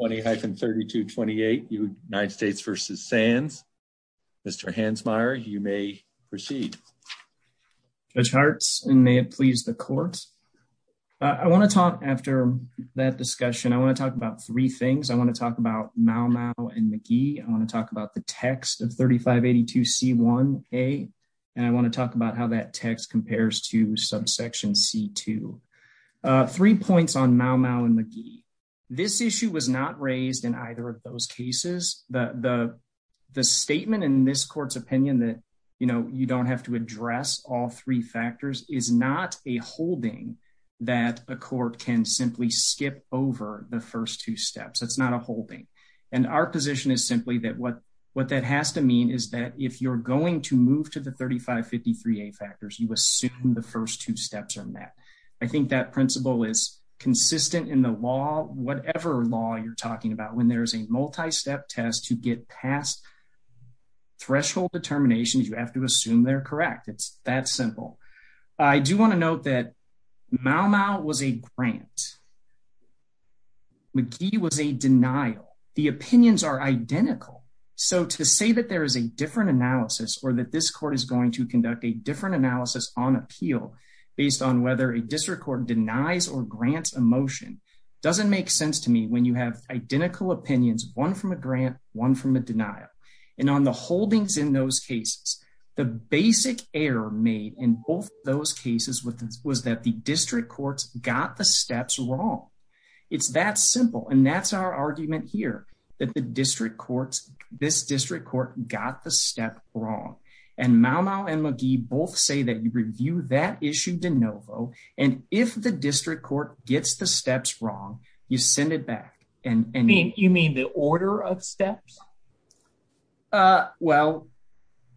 20-32-28 United States v. Sands. Mr. Hansmeier, you may proceed. Judge Hartz, and may it please the court. I want to talk after that discussion, I want to talk about three things. I want to talk about Mau Mau and McGee. I want to talk about the text of 3582 c1a, and I want to talk about how that text compares to subsection c2. Three points on Mau was not raised in either of those cases. The statement in this court's opinion that, you know, you don't have to address all three factors is not a holding that a court can simply skip over the first two steps. It's not a holding. And our position is simply that what that has to mean is that if you're going to move to the 3553a factors, you assume the first two steps are met. I think that principle is consistent in the law, whatever law you're talking about. When there's a multi-step test to get past threshold determinations, you have to assume they're correct. It's that simple. I do want to note that Mau Mau was a grant. McGee was a denial. The opinions are identical. So to say that there is a different analysis or that this court is conduct a different analysis on appeal based on whether a district court denies or grants a motion doesn't make sense to me when you have identical opinions, one from a grant, one from a denial. And on the holdings in those cases, the basic error made in both those cases was that the district courts got the steps wrong. It's that simple. And that's our argument here, that this district court got the step wrong. And Mau Mau and McGee both say that you review that issue de novo. And if the district court gets the steps wrong, you send it back. You mean the order of steps? Well,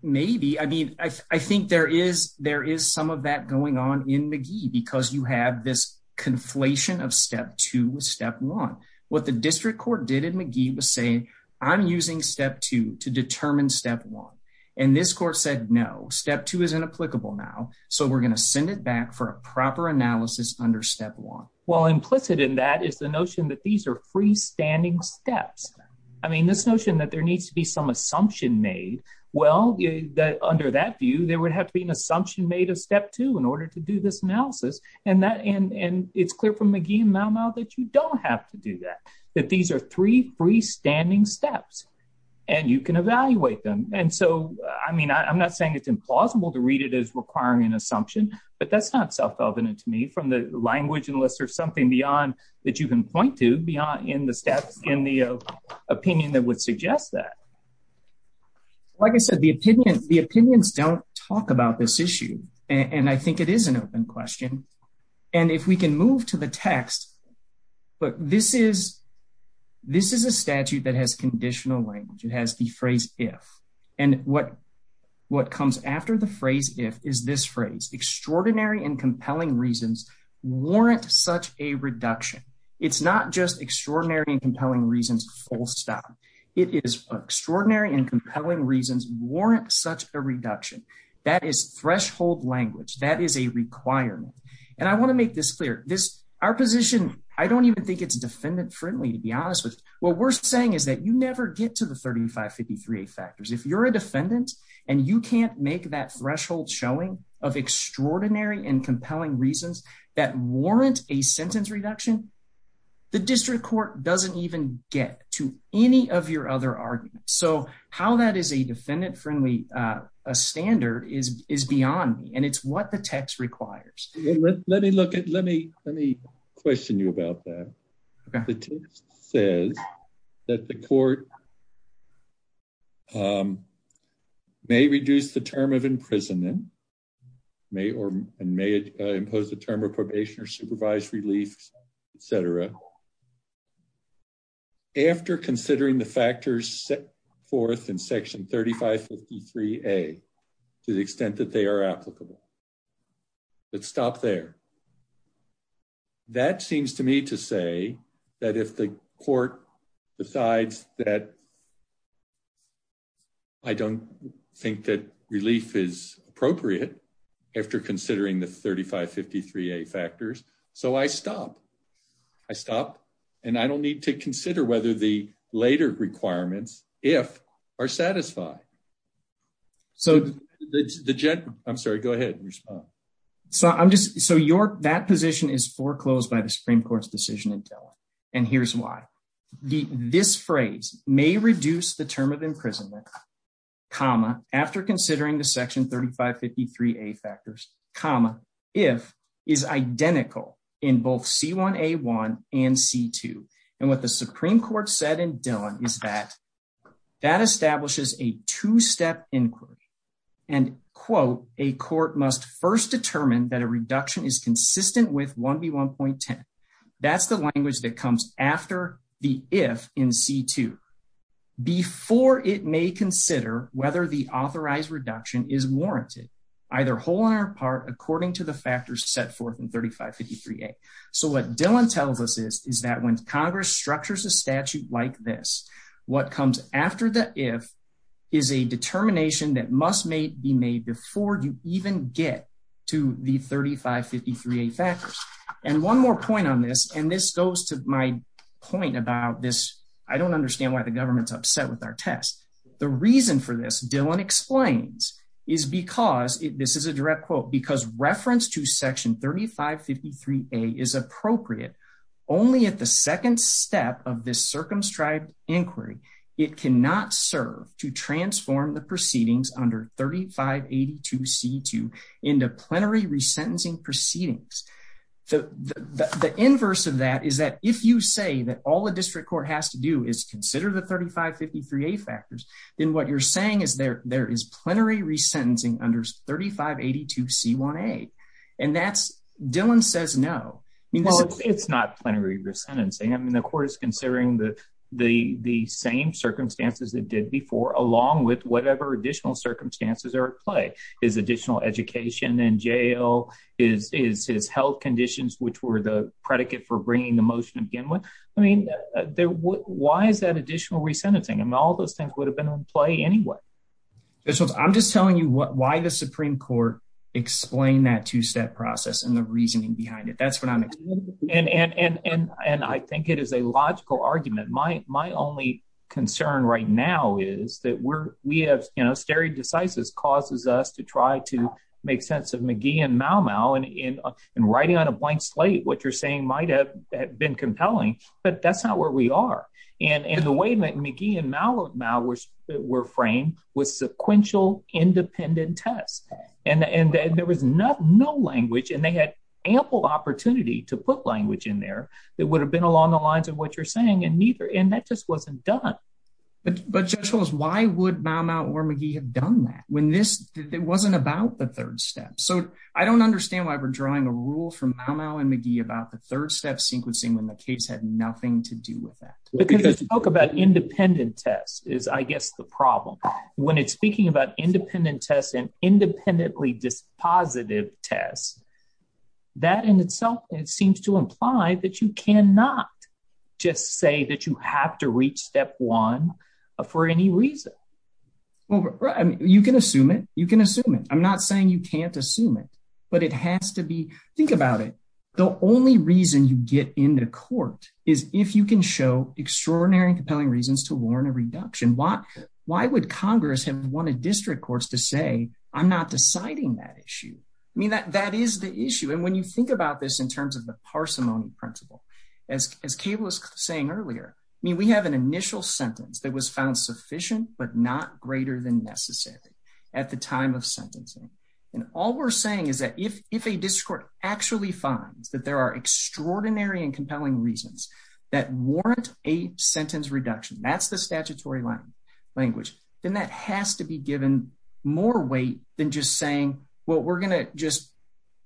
maybe. I think there is some of that going on in McGee because you have this conflation of step one. What the district court did in McGee was say, I'm using step two to determine step one. And this court said, no, step two is inapplicable now. So we're going to send it back for a proper analysis under step one. Well, implicit in that is the notion that these are freestanding steps. I mean, this notion that there needs to be some assumption made. Well, under that view, there would have to be an assumption made of step two in order to do this analysis. And it's clear from McGee and Mau Mau that you don't have to do that. That these are three freestanding steps. And you can evaluate them. And so, I mean, I'm not saying it's implausible to read it as requiring an assumption. But that's not self-evident to me from the language unless there's something beyond that you can point to beyond in the steps in the opinion that would suggest that. Like I said, the opinions don't talk about this issue. And I think it is an open question. And if we can move to the text, look, this is a statute that has conditional language. It has the phrase if. And what comes after the phrase if is this phrase, extraordinary and compelling reasons warrant such a reduction. It's not just extraordinary and compelling reasons, full stop. It is extraordinary and that is a requirement. And I want to make this clear. Our position, I don't even think it's defendant-friendly to be honest. What we're saying is that you never get to the 3553A factors. If you're a defendant and you can't make that threshold showing of extraordinary and compelling reasons that warrant a sentence reduction, the district court doesn't even get to any of your arguments. So how that is a defendant-friendly standard is beyond me. And it's what the text requires. Let me question you about that. The text says that the court may reduce the term of imprisonment and may impose a term of probation or supervised relief, et cetera, after considering the factors set forth in section 3553A to the extent that they are applicable. Let's stop there. That seems to me to say that if the court decides that I don't think that relief is appropriate after considering the 3553A factors, so I stop. I stop and I don't need to consider whether the later requirements, if, are satisfied. I'm sorry, go ahead and respond. So that position is foreclosed by the Supreme Court's decision in Dillon. And here's why. This phrase, may reduce the term imprisonment, comma, after considering the section 3553A factors, comma, if, is identical in both C1A1 and C2. And what the Supreme Court said in Dillon is that that establishes a two-step inquiry. And quote, a court must first determine that a reduction is consistent with 1B1.10. That's the language that comes after the if in C2, before it may consider whether the authorized reduction is warranted, either whole or in part, according to the factors set forth in 3553A. So what Dillon tells us is, is that when Congress structures a statute like this, what comes after the if is a determination that must be made before you even get to the 3553A factors. And one more point on this, and this goes to my point about this, I don't understand why the government's upset with our test. The reason for this, Dillon explains, is because, this is a direct quote, because reference to section 3553A is appropriate only at the second step of this circumscribed inquiry. It cannot serve to transform the proceedings under 3582C2 into plenary resentencing proceedings. The inverse of that is that if you say that all the district court has to do is consider the 3553A factors, then what you're saying is there is plenary resentencing under 3582C1A. And that's, Dillon says no. Well, it's not plenary resentencing. I mean, the court is considering the same circumstances it did before, along with whatever additional circumstances are at play. Is additional education in jail? Is health conditions, which were the predicate for bringing the motion to begin with? I mean, why is that additional resentencing? I mean, all those things would have been on play anyway. I'm just telling you why the Supreme Court explained that two-step process and the reasoning behind it. That's what I'm explaining. And I think it is a logical argument. My only concern right now is that we're, we have, you know, stare decisis causes us to try to make sense of McGee and Mau Mau. And in writing on a blank slate, what you're saying might have been compelling, but that's not where we are. And the way that McGee and Mau Mau were framed was sequential independent tests. And there was no language and they had ample opportunity to put language in there that would have been along the lines of what you're saying and neither. And that wasn't done. But, but just show us why would Mau Mau or McGee have done that when this, it wasn't about the third step. So I don't understand why we're drawing a rule from Mau Mau and McGee about the third step sequencing when the case had nothing to do with that. Because this talk about independent tests is I guess the problem. When it's speaking about independent tests and independently dispositive tests, that in itself, it seems to imply that you cannot just say that you have to reach step one for any reason. Well, you can assume it, you can assume it. I'm not saying you can't assume it, but it has to be, think about it. The only reason you get into court is if you can show extraordinary compelling reasons to warrant a reduction. Why, why would Congress have wanted district courts to say, I'm not deciding that issue? I mean, that, that is the issue. And when you think about this in terms of the parsimony principle, as, as Kayla was saying earlier, I mean, we have an initial sentence that was found sufficient, but not greater than necessary at the time of sentencing. And all we're saying is that if, if a district court actually finds that there are extraordinary and compelling reasons that warrant a sentence reduction, that's the statutory language, then that has to be given more weight than just saying, well, we're going to just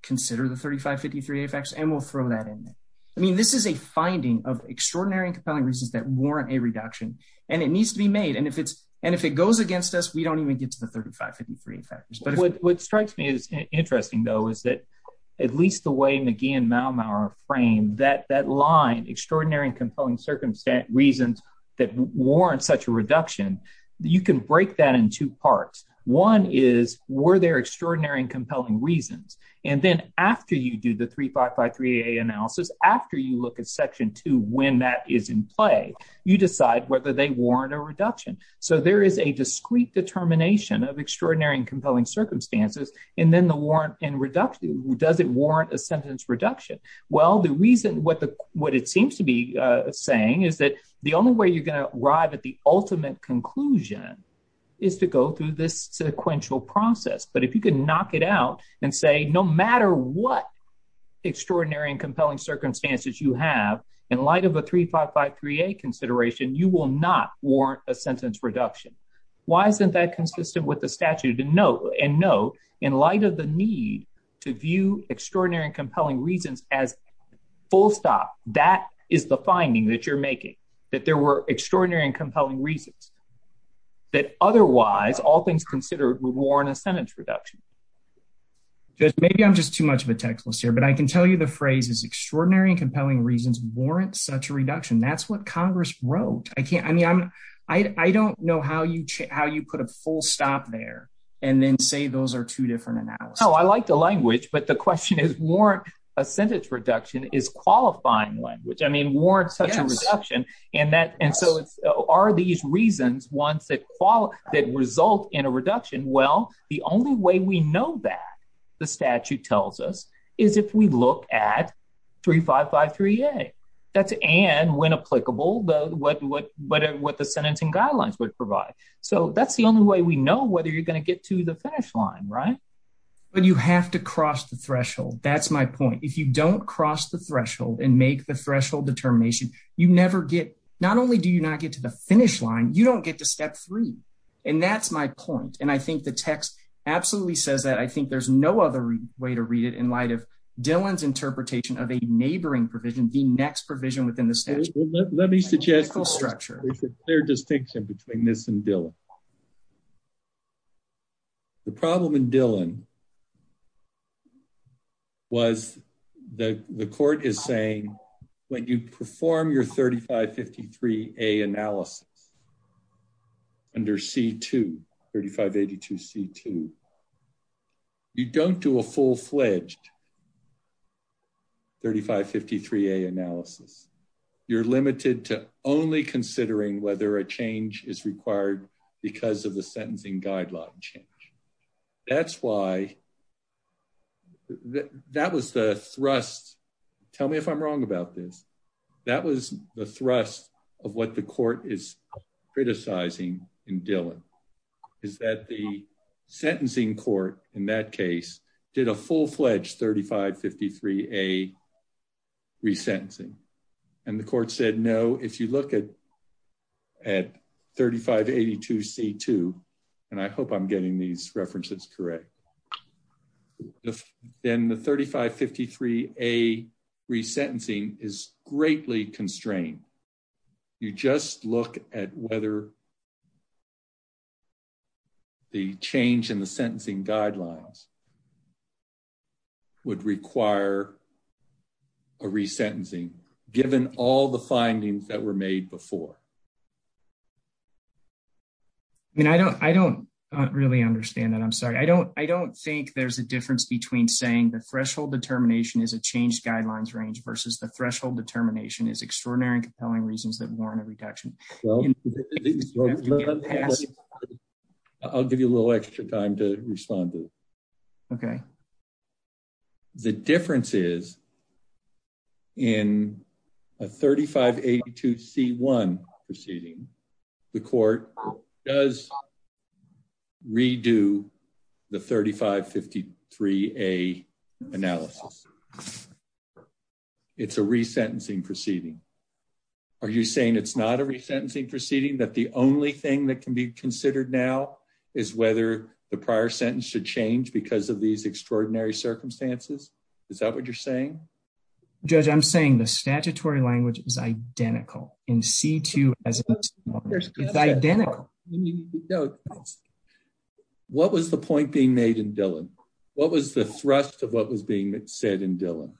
consider the I mean, this is a finding of extraordinary and compelling reasons that warrant a reduction, and it needs to be made. And if it's, and if it goes against us, we don't even get to the 3553 factors. But what strikes me as interesting though, is that at least the way McGee and Maumauer framed that, that line, extraordinary and compelling circumstance reasons that warrant such a reduction, you can break that in two parts. One is, were there extraordinary and After you look at section two, when that is in play, you decide whether they warrant a reduction. So there is a discrete determination of extraordinary and compelling circumstances. And then the warrant and reduction, does it warrant a sentence reduction? Well, the reason what the, what it seems to be saying is that the only way you're going to arrive at the ultimate conclusion is to go through this sequential process. But if you could knock it out and say, no matter what extraordinary and compelling circumstances you have in light of a 3553a consideration, you will not warrant a sentence reduction. Why isn't that consistent with the statute? And no, and no, in light of the need to view extraordinary and compelling reasons as full stop, that is the finding that you're making, that there were extraordinary and compelling reasons that otherwise all things considered would warrant a sentence reduction. Just maybe I'm just too much of a text list here. But I can tell you the phrase is extraordinary and compelling reasons warrant such a reduction. That's what Congress wrote. I can't I mean, I'm, I don't know how you how you put a full stop there. And then say those are two different analysis. Oh, I like the language. But the question is warrant a sentence reduction is qualifying one, which I mean, warrant such a reduction. And that and so it's are these reasons ones that fall that result in a reduction? Well, the only way we know that the statute tells us is if we look at 3553a, that's and when applicable, though, what, what, what, what the sentencing guidelines would provide. So that's the only way we know whether you're going to get to the finish line, right? But you have to cross the threshold. That's my point. If you don't cross the threshold and make the threshold determination, you never get not only do you not get to the finish line, you don't get to step three. And that's my point. And I think the text absolutely says that I think there's no other way to read it in light of Dylan's interpretation of a neighboring provision, the next provision within the statute. Let me suggest the structure, their distinction between this and Dylan. The problem in Dylan was the court is saying, when you perform your 3553a analysis, under C2, 3582 C2, you don't do a full fledged 3553a analysis, you're limited to only considering whether a change is required because of the sentencing guideline change. That's why that was the thrust. Tell me if I'm wrong about this. That was the thrust of what the court is criticizing in Dylan, is that the sentencing court in that case did a full fledged 3553a resentencing. And the court said, no, if you look at 3582 C2, and I hope I'm getting these references correct, then the 3553a resentencing is greatly constrained. You just look at whether the change in the sentencing guidelines would require a resentencing, given all the findings that were made before. And I don't really understand that. I'm sorry. I don't think there's a difference between saying the threshold determination is a changed guidelines range versus the threshold determination is extraordinary and compelling reasons that warrant a reduction. I'll give you a little extra time to respond to it. Okay. The difference is, in a 3582 C1 proceeding, the court does redo the 3553a analysis. It's a resentencing proceeding. Are you saying it's not a resentencing proceeding, that the only thing that can be considered now is whether the prior sentence should change because of these extraordinary circumstances? Is that what you're saying? Judge, I'm saying the statutory language is identical in C2. It's identical. What was the point being made in Dillon? What was the thrust of what was being said in Dillon?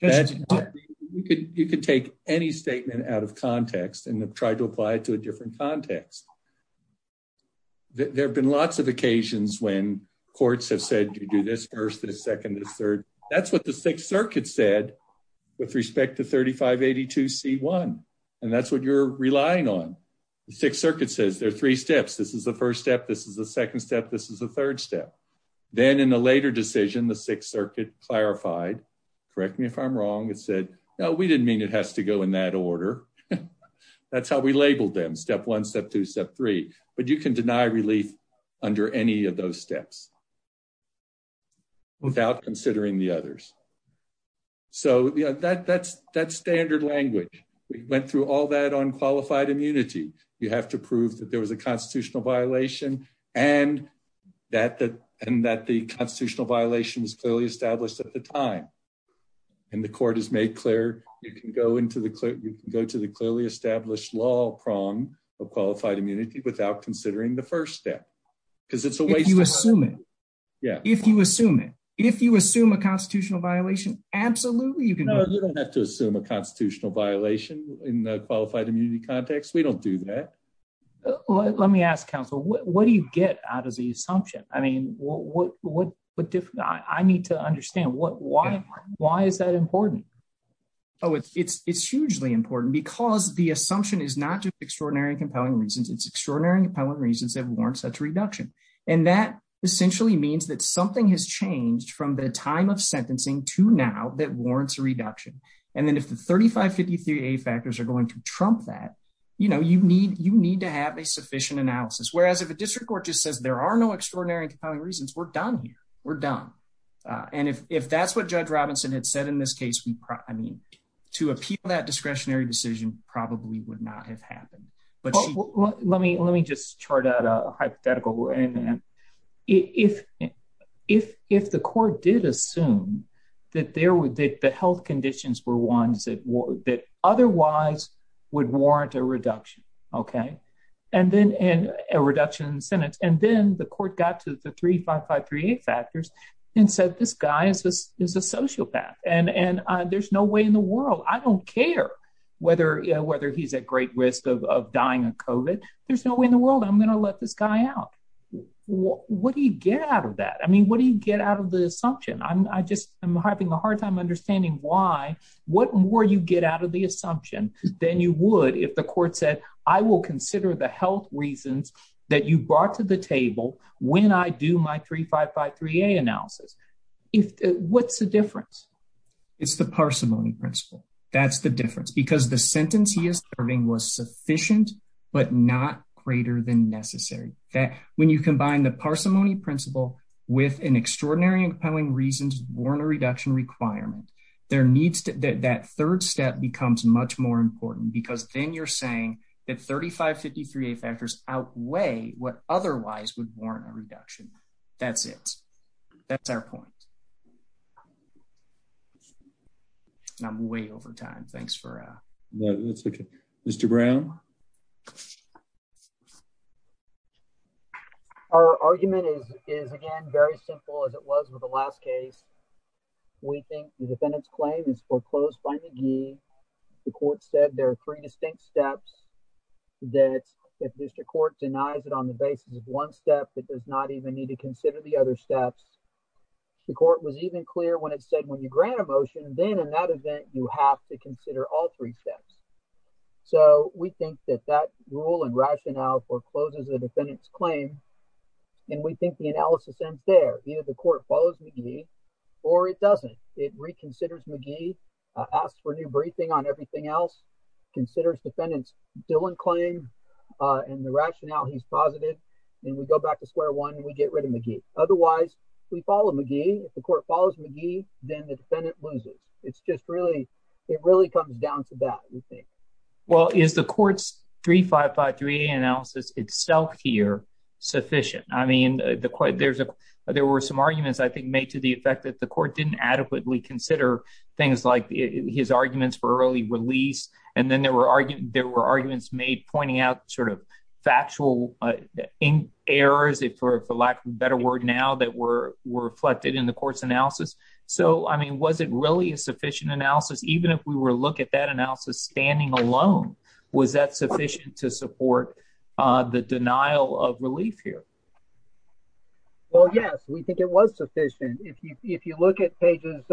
You can take any statement out of context and try to apply it to a different context. There have been lots of occasions when courts have said, you do this first, this second, this third. That's what the Sixth Circuit said with respect to 3582 C1. That's what you're relying on. The Sixth Circuit says there are three steps. This is the first step, this is the second step, this is the third step. Then in a later decision, the Sixth Circuit clarified, correct me if I'm wrong, it said, no, we didn't mean it has to go in that order. That's how we labeled them, step one, step two, step three, but you can deny relief under any of those steps without considering the others. That's standard language. Through all that on qualified immunity, you have to prove that there was a constitutional violation and that the constitutional violation was clearly established at the time. The court has made clear you can go to the clearly established law prong of qualified immunity without considering the first step. If you assume it, if you assume a constitutional violation, absolutely you can. You don't have to assume a constitutional violation in a qualified immunity context. We don't do that. Let me ask counsel, what do you get out of the assumption? I mean, I need to understand why is that important? It's hugely important because the assumption is not just extraordinary and compelling reasons, it's extraordinary and compelling reasons that warrant such reduction. That essentially means that something has changed from the time of sentencing to now that warrants a reduction. And then if the 3553A factors are going to trump that, you need to have a sufficient analysis. Whereas if a district court just says there are no extraordinary reasons, we're done here, we're done. And if that's what Judge Robinson had said in this case, I mean, to appeal that discretionary decision probably would not have assumed that the health conditions were ones that otherwise would warrant a reduction, okay? And then a reduction in sentence. And then the court got to the 3553A factors and said, this guy is a sociopath and there's no way in the world, I don't care whether he's at great risk of dying of COVID, there's no way in the world I'm going to let this guy out. What do you get out of that? I mean, what do you get out of the assumption? I just, I'm having a hard time understanding why, what more you get out of the assumption than you would if the court said, I will consider the health reasons that you brought to the table when I do my 3553A analysis. What's the difference? It's the parsimony principle. That's the difference because the sentence he is serving was sufficient, but not greater than necessary. When you combine the parsimony principle with an extraordinary compelling reasons warrant a reduction requirement, that third step becomes much more important because then you're saying that 3553A factors outweigh what otherwise would warrant a reduction. That's it. That's our point. I'm way over time. Thanks for that. That's okay. Mr. Brown. Our argument is, is again, very simple as it was with the last case. We think the defendant's claim is foreclosed by McGee. The court said there are three distinct steps that if district court denies it on the basis of one step, that does not even need to consider the other steps. The court was even clear when it said, when you grant a motion, then in that event, you have to consider all three steps. So we think that that rule and rationale forecloses the defendant's claim. And we think the analysis ends there. Either the court follows McGee or it doesn't. It reconsiders McGee, asks for new briefing on everything else, considers defendant's Dillon claim and the and we go back to square one and we get rid of McGee. Otherwise, we follow McGee. If the court follows McGee, then the defendant loses. It's just really, it really comes down to that, we think. Well, is the court's 3553A analysis itself here sufficient? I mean, there were some arguments, I think, made to the effect that the court didn't adequately consider things like his arguments for errors, for lack of a better word now, that were reflected in the court's analysis. So, I mean, was it really a sufficient analysis? Even if we were to look at that analysis standing alone, was that sufficient to support the denial of relief here? Well, yes, we think it was sufficient. If you look at pages,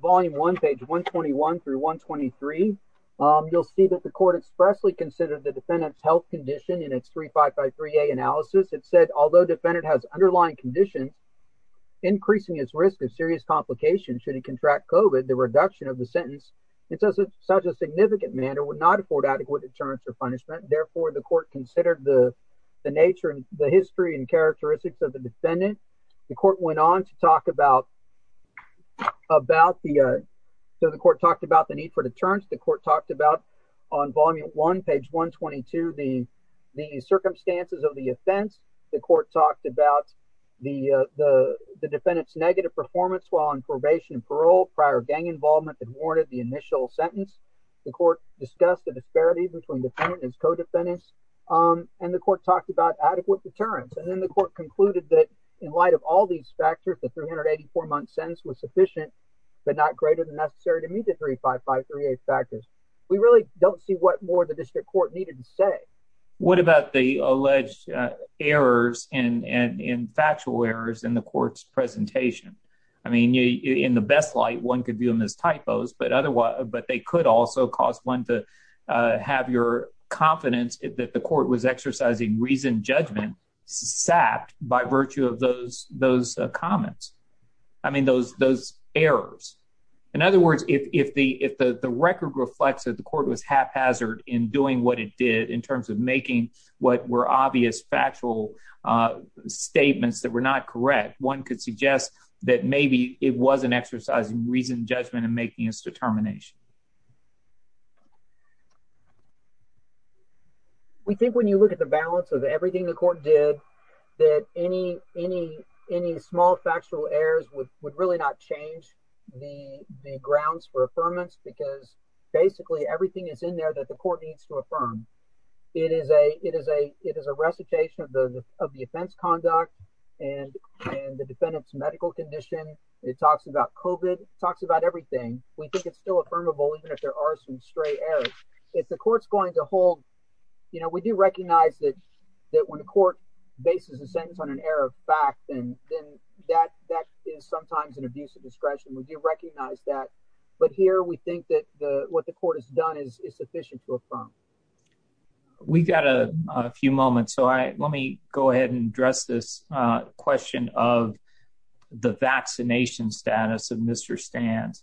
volume one, page 121 through 123, you'll see that the court expressly considered the defendant's health condition in its 3553A analysis. It said, although defendant has underlying condition, increasing his risk of serious complication should he contract COVID, the reduction of the sentence in such a significant manner would not afford adequate deterrence or punishment. Therefore, the court considered the nature and the history and characteristics of the defendant. The court went on to talk about the, so the court talked about the need for deterrence. The court talked about on volume one, page 122, the circumstances of the offense. The court talked about the defendant's negative performance while on probation and parole, prior gang involvement that warranted the initial sentence. The court discussed the disparities between the defendant and his co-defendants, and the court talked about adequate deterrence. And then the court concluded that in light of all these factors, the 384-month sentence was sufficient, but not greater than necessary to meet the 3553A factors. We really don't see what more the district court needed to say. What about the alleged errors and factual errors in the court's presentation? I mean, in the best light, one could view them as typos, but they could also cause one to have your confidence that the court was exercising reasoned judgment, sapped by virtue of those comments. I mean, those errors. In other words, if the record reflects that the court was haphazard in doing what it did, in terms of making what were obvious, factual statements that were not correct, one could suggest that maybe it wasn't exercising reasoned judgment in making its determination. We think when you look at the balance of everything the court did, that any small factual errors would really not change the grounds for affirmance, because basically everything is in there that the court needs to affirm. It is a recitation of the offense conduct and the defendant's medical condition. It talks about COVID. It talks about everything. We think it's still affirmable, even if there are some errors. If the court's going to hold, we do recognize that when the court bases a sentence on an error of fact, then that is sometimes an abuse of discretion. We do recognize that. But here, we think that what the court has done is sufficient to affirm. We've got a few moments, so let me go ahead and address this question of the vaccination status of Mr. Sands.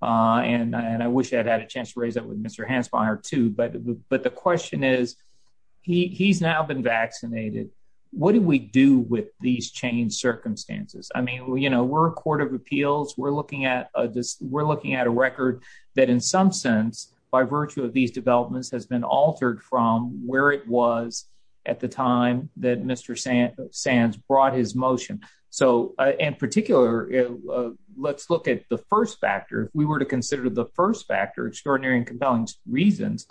I wish I'd had a chance to raise that with Mr. Hansmeier too, but the question is, he's now been vaccinated. What do we do with these changed circumstances? We're a court of appeals. We're looking at a record that in some sense, by virtue of these developments, has been altered from where it was at the time that Mr. Sands brought his motion. In particular, let's look at the first factor. If we were to consider the first factor, extraordinary and compelling reasons,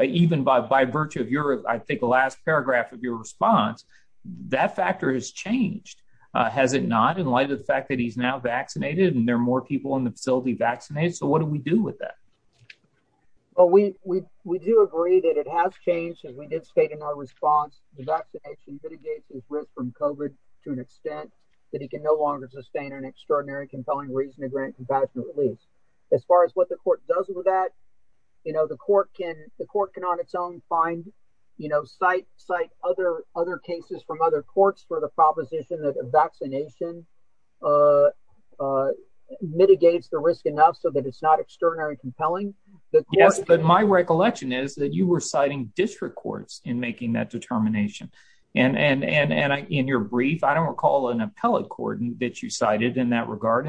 even by virtue of your last paragraph of your response, that factor has changed. Has it not, in light of the fact that he's now vaccinated and there are more people in that? Well, we do agree that it has changed as we did state in our response. The vaccination mitigates his risk from COVID to an extent that he can no longer sustain an extraordinary, compelling reason to grant compassionate release. As far as what the court does with that, the court can on its own cite other cases from other courts for the proposition that a vaccination a mitigates the risk enough so that it's not extraordinary and compelling. Yes, but my recollection is that you were citing district courts in making that determination. In your brief, I don't recall an appellate court that you cited in that regard.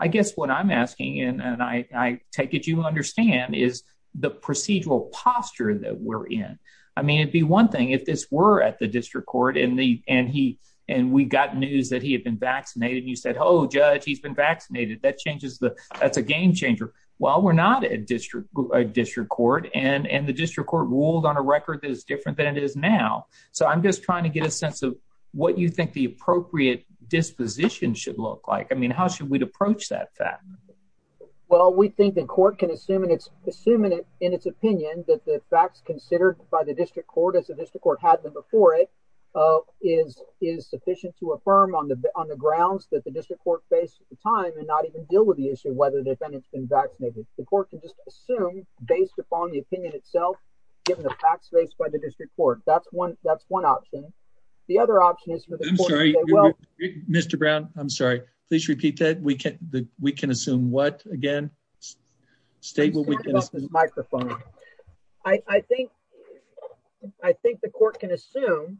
I guess what I'm asking, and I take it you understand, is the procedural posture that we're in. It'd be one thing if this were at the district court and we got news that he had been vaccinated and you said, Judge, he's been vaccinated. That's a game changer. Well, we're not at a district court and the district court ruled on a record that is different than it is now. I'm just trying to get a sense of what you think the appropriate disposition should look like. How should we approach that fact? Well, we think the court can assume in its opinion that the facts considered by the district court as the district court had them before it is sufficient to affirm on the grounds that the district court face at the time and not even deal with the issue of whether they've been vaccinated. The court can just assume based upon the opinion itself, given the facts based by the district court. That's one option. The other option is for the court to say, Well, Mr. Brown, I'm sorry. Please repeat that. We can assume what again? State what we can assume. Microphone. I think the court can assume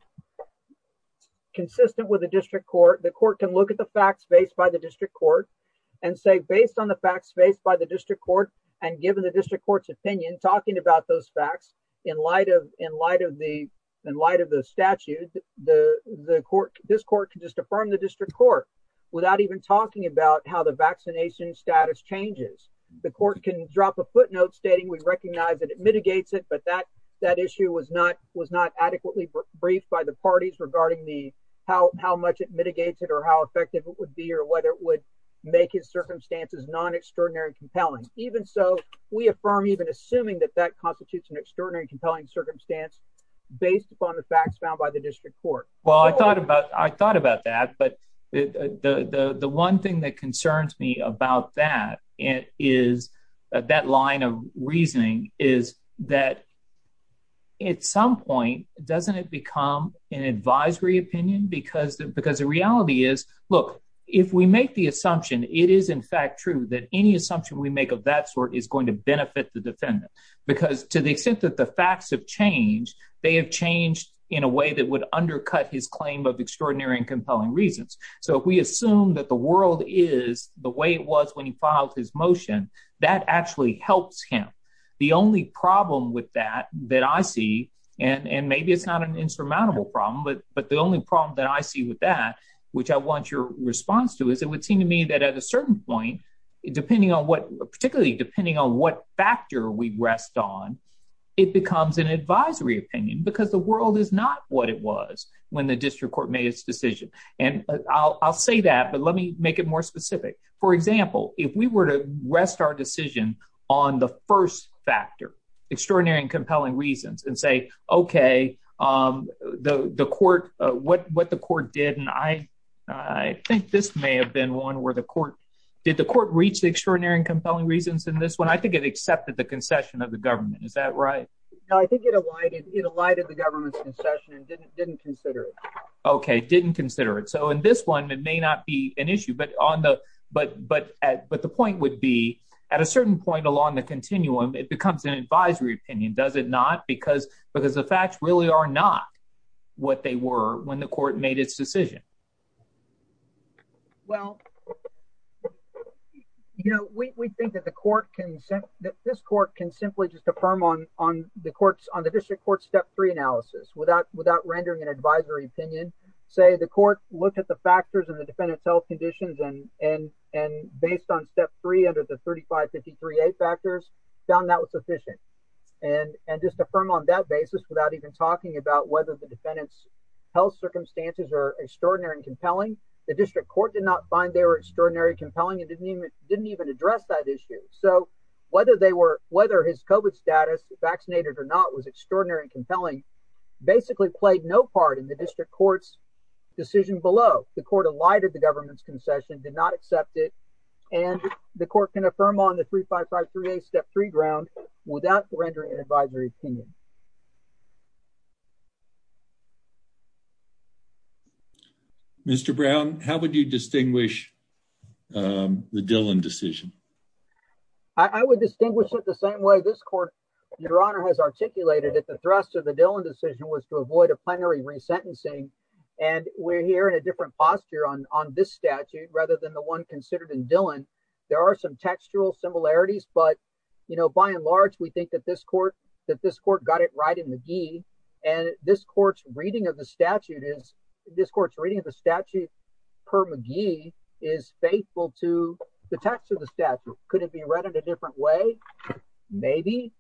consistent with the district court, the court can look at the facts based by the district court and say, based on the facts faced by the district court and given the district court's opinion, talking about those facts in light of in light of the in light of the statute, the court, this court could just affirm the district court without even talking about how the vaccination status changes. The court can drop a footnote stating we recognize that it mitigates it. But that that issue was not was not adequately briefed by the parties regarding the how how much it mitigates it or how effective it would be or whether it would make his circumstances non extraordinary compelling. Even so, we affirm even assuming that that constitutes an extraordinary compelling circumstance based upon the facts found by the district court. Well, I thought about I thought about that. But the one thing that concerns me about that is that that line of reasoning is that at some point, doesn't it become an advisory opinion? Because because the reality is, look, if we make the assumption, it is in fact true that any assumption we make of that sort is going to benefit the defendant, because to the extent that the facts have changed, they have changed in a way that would undercut his claim of extraordinary and compelling reasons. So if we assume that the world is the way it was when he filed his motion, that actually helps him. The only problem with that that I see, and maybe it's not an insurmountable problem, but but the only problem that I see with that, which I want your response to is it would seem to me that at a certain point, depending on what, particularly depending on what factor we rest on, it becomes an advisory opinion, because the world is not what it was when the district court made its decision. And I'll say that, but let me make it more specific. For example, if we were to rest our decision on the first factor, extraordinary and compelling reasons and say, okay, the court, what what the court did, and I, I think this may have been one where the court, did the court reach the extraordinary and compelling reasons in this one, I think it accepted the concession of the government. Is that right? No, I think it alighted the government's concession and didn't consider it. Didn't consider it. So in this one, it may not be an issue, but on the, but, but, but the point would be at a certain point along the continuum, it becomes an advisory opinion, does it not? Because, because the facts really are not what they were when the court made its decision. Well, you know, we think that the court can, that this court can simply just affirm on, on the courts on the district court step three analysis without, without rendering an advisory opinion, say the court looked at the factors and the defendant's health conditions and, and, and based on step three under the 35, 53, eight factors found that was sufficient. And, and just affirm on that basis without even talking about whether the defendant's health circumstances are extraordinary and compelling. The district court did not find they were extraordinary, compelling, and didn't even, didn't even address that issue. So whether they were, whether his COVID status vaccinated or not was extraordinary and compelling, basically played no part in the district court's decision below the court, a lighter, the government's concession did not accept it. And the court can affirm on the three, five, five, three, a step three ground without rendering an advisory opinion. Mr. Brown, how would you distinguish the Dylan decision? I would distinguish it the same way. This court, your honor has articulated at the Dylan decision was to avoid a plenary resentencing. And we're here in a different posture on, on this statute rather than the one considered in Dylan. There are some textual similarities, but you know, by and large, we think that this court, that this court got it right in the G and this court's reading of the statute is this court's reading of the statute per McGee is faithful to the text of the statute. Could it be read in a different way? Maybe.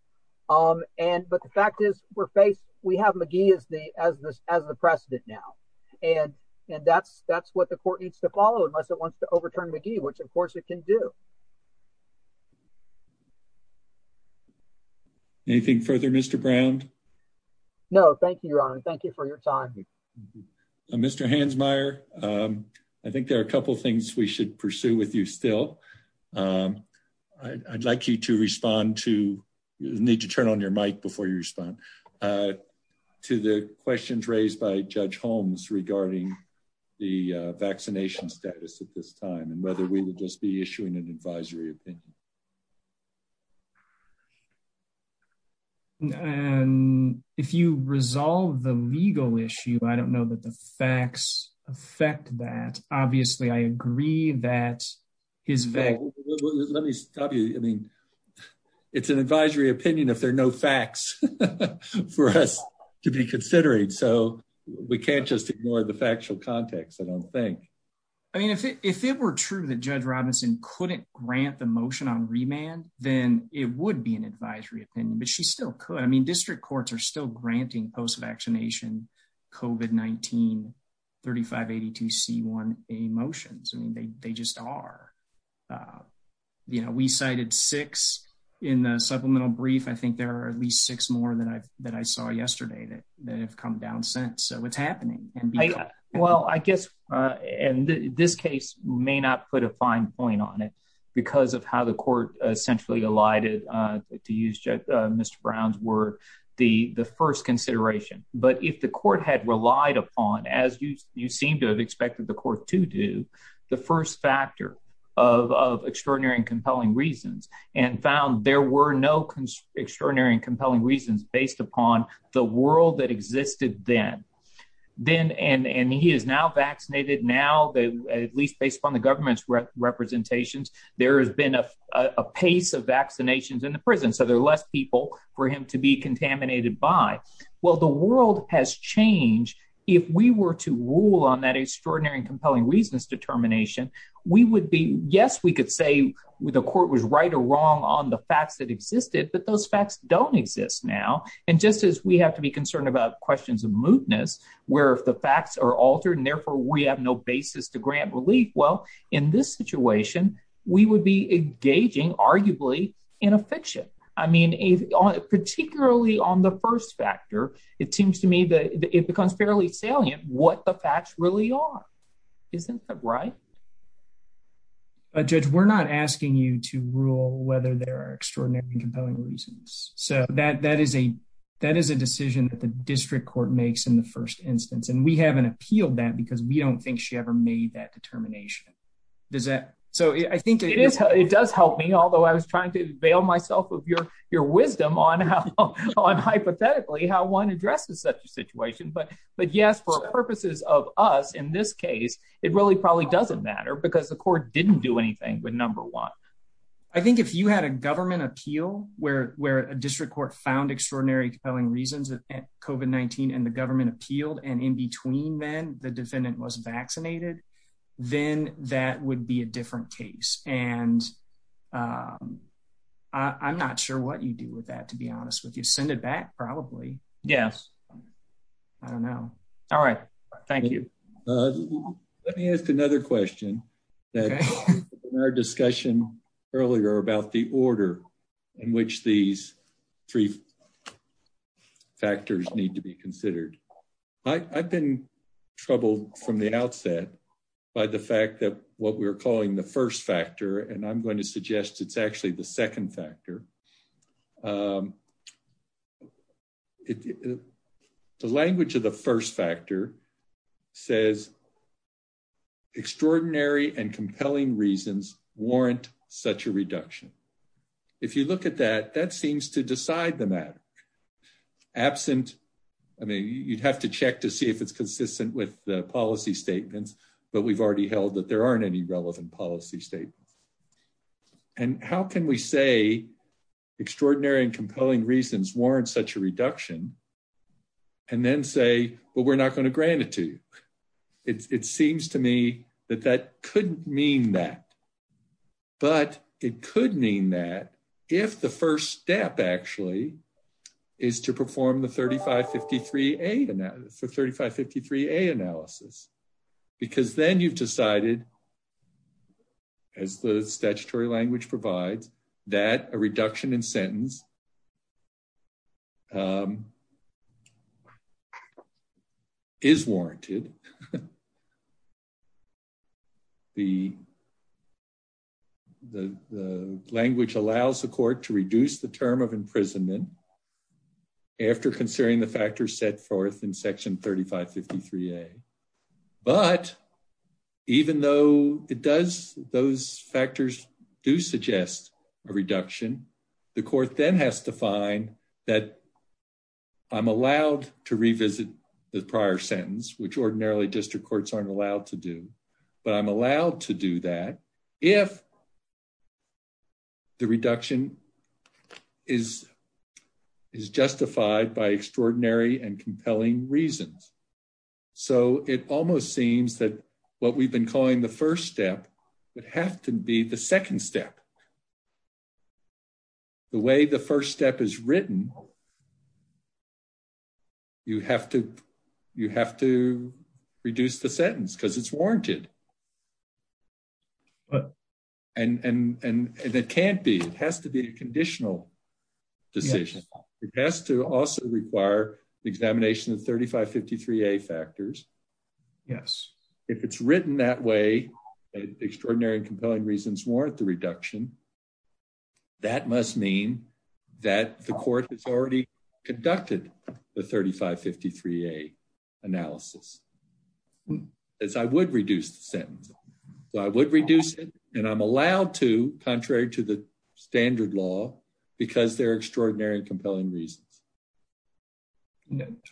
And, but the we have McGee as the, as the, as the precedent now, and, and that's, that's what the court needs to follow unless it wants to overturn McGee, which of course it can do anything further, Mr. Brown. No, thank you, your honor. Thank you for your time. Mr. Hansmeier. Um, I think there are a couple of things we should pursue with you still. Um, I I'd like you to respond to need to the questions raised by judge Holmes regarding the vaccination status at this time and whether we would just be issuing an advisory opinion. And if you resolve the legal issue, I don't know that the facts affect that. Obviously I agree that is vague. Let me stop you. I mean, it's an advisory opinion if there are no facts for us to be considered. So we can't just ignore the factual context. I don't think, I mean, if it, if it were true that judge Robinson couldn't grant the motion on remand, then it would be an advisory opinion, but she still could. I mean, district courts are still granting post-vaccination COVID-19 3582 C1 emotions. I mean, they, they just are, uh, we cited six in the supplemental brief. I think there are at least six more than I've, that I saw yesterday that have come down since. So it's happening. Well, I guess, uh, and this case may not put a fine point on it because of how the court essentially alighted, uh, to use, uh, Mr. Brown's word, the, the first consideration, but if the court had relied upon, as you, you seem to have expected the court to do the first factor of, of extraordinary and compelling reasons and found there were no extraordinary and compelling reasons based upon the world that existed then, then, and, and he is now vaccinated. Now they, at least based upon the government's representations, there has been a, a pace of vaccinations in the prison. So there are less people for him to be contaminated by. Well, the world has changed. If we were to rule on extraordinary and compelling reasons determination, we would be, yes, we could say the court was right or wrong on the facts that existed, but those facts don't exist now. And just as we have to be concerned about questions of mootness, where if the facts are altered and therefore we have no basis to grant relief, well, in this situation, we would be engaging arguably in a fiction. I mean, particularly on the first factor, it seems to me it becomes fairly salient what the facts really are. Isn't that right? Judge, we're not asking you to rule whether there are extraordinary and compelling reasons. So that, that is a, that is a decision that the district court makes in the first instance. And we haven't appealed that because we don't think she ever made that determination. Does that? So I think it is, it does help me, although I was trying to avail myself of your, your wisdom on how, on hypothetically how one addresses such a situation, but, but yes, for purposes of us in this case, it really probably doesn't matter because the court didn't do anything with number one. I think if you had a government appeal where, where a district court found extraordinary compelling reasons that COVID-19 and the government appealed and in between then the defendant was vaccinated, then that would be a different case. And I'm not sure what you do with that, to be honest with you, send it back. Probably. Yes. I don't know. All right. Thank you. Let me ask another question that our discussion earlier about the order in which these three factors need to be considered. I I've been troubled from the outset by the fact that what we're calling the first factor, and I'm going to suggest it's actually the second factor. The language of the first factor says extraordinary and compelling reasons warrant such a reduction. If you look at that, that seems to decide the matter absent. I mean, you'd have to check to see if it's consistent with the policy statements, but we've already held that there aren't any relevant policy statements. And how can we say extraordinary and compelling reasons warrant such a reduction and then say, well, we're not going to grant it to you. It's, it seems to me that that couldn't mean that, but it could mean that if the first step actually is to perform the 3553 for 3553 a analysis, because then you've decided as the statutory language provides that a reduction in sentence is warranted. The, the, the language allows the court to reduce the term of imprisonment after considering the factors set forth in section 3553 a, but even though it does, those factors do suggest a reduction, the court then has to find that I'm allowed to revisit the prior sentence, which ordinarily district courts aren't allowed to do, but I'm allowed to justify it by extraordinary and compelling reasons. So it almost seems that what we've been calling the first step would have to be the second step, the way the first step is written. You have to, you have to reduce the sentence because it's warranted. But, and, and, and it can't be, it has to be a conditional decision. It has to also require the examination of 3553 a factors. Yes. If it's written that way, extraordinary and compelling reasons warrant the reduction that must mean that the court has already conducted the 3553 a analysis as I would reduce the sentence. So I would reduce it and I'm allowed to, contrary to the standard law, because they're extraordinary and compelling reasons.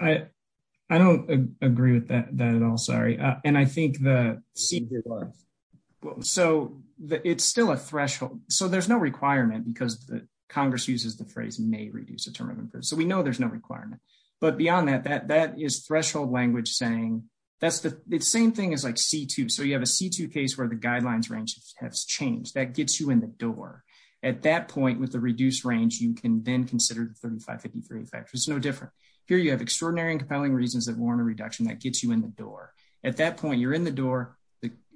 I, I don't agree with that at all. Sorry. And I think the senior life. So it's still a threshold. So there's no requirement because the Congress uses the phrase may reduce the term of imprisonment. So we know there's no requirement, but beyond that, that is threshold language saying that's the same thing as like C2. So you have a C2 case where the guidelines range has changed. That gets you in the door at that point with the reduced range, you can then consider the 3553 effect. There's no different here. You have extraordinary and compelling reasons that warrant a reduction that gets you in the door at that point you're in the door.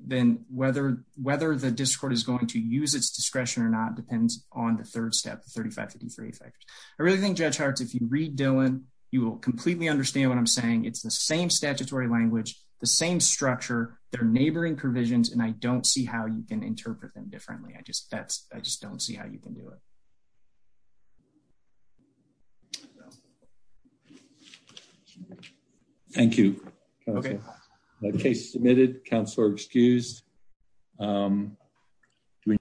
Then whether, whether the discord is going to use its discretion or not depends on the third step, the 3553 effect. I really think judge hearts. If you read Dylan, you will completely understand what I'm saying. It's the same statutory language, the same structure, their neighboring provisions. And I don't see how you can interpret them differently. I just, that's, I just don't see how you can do it. Thank you. Okay. Okay. Submitted counselor. Excuse.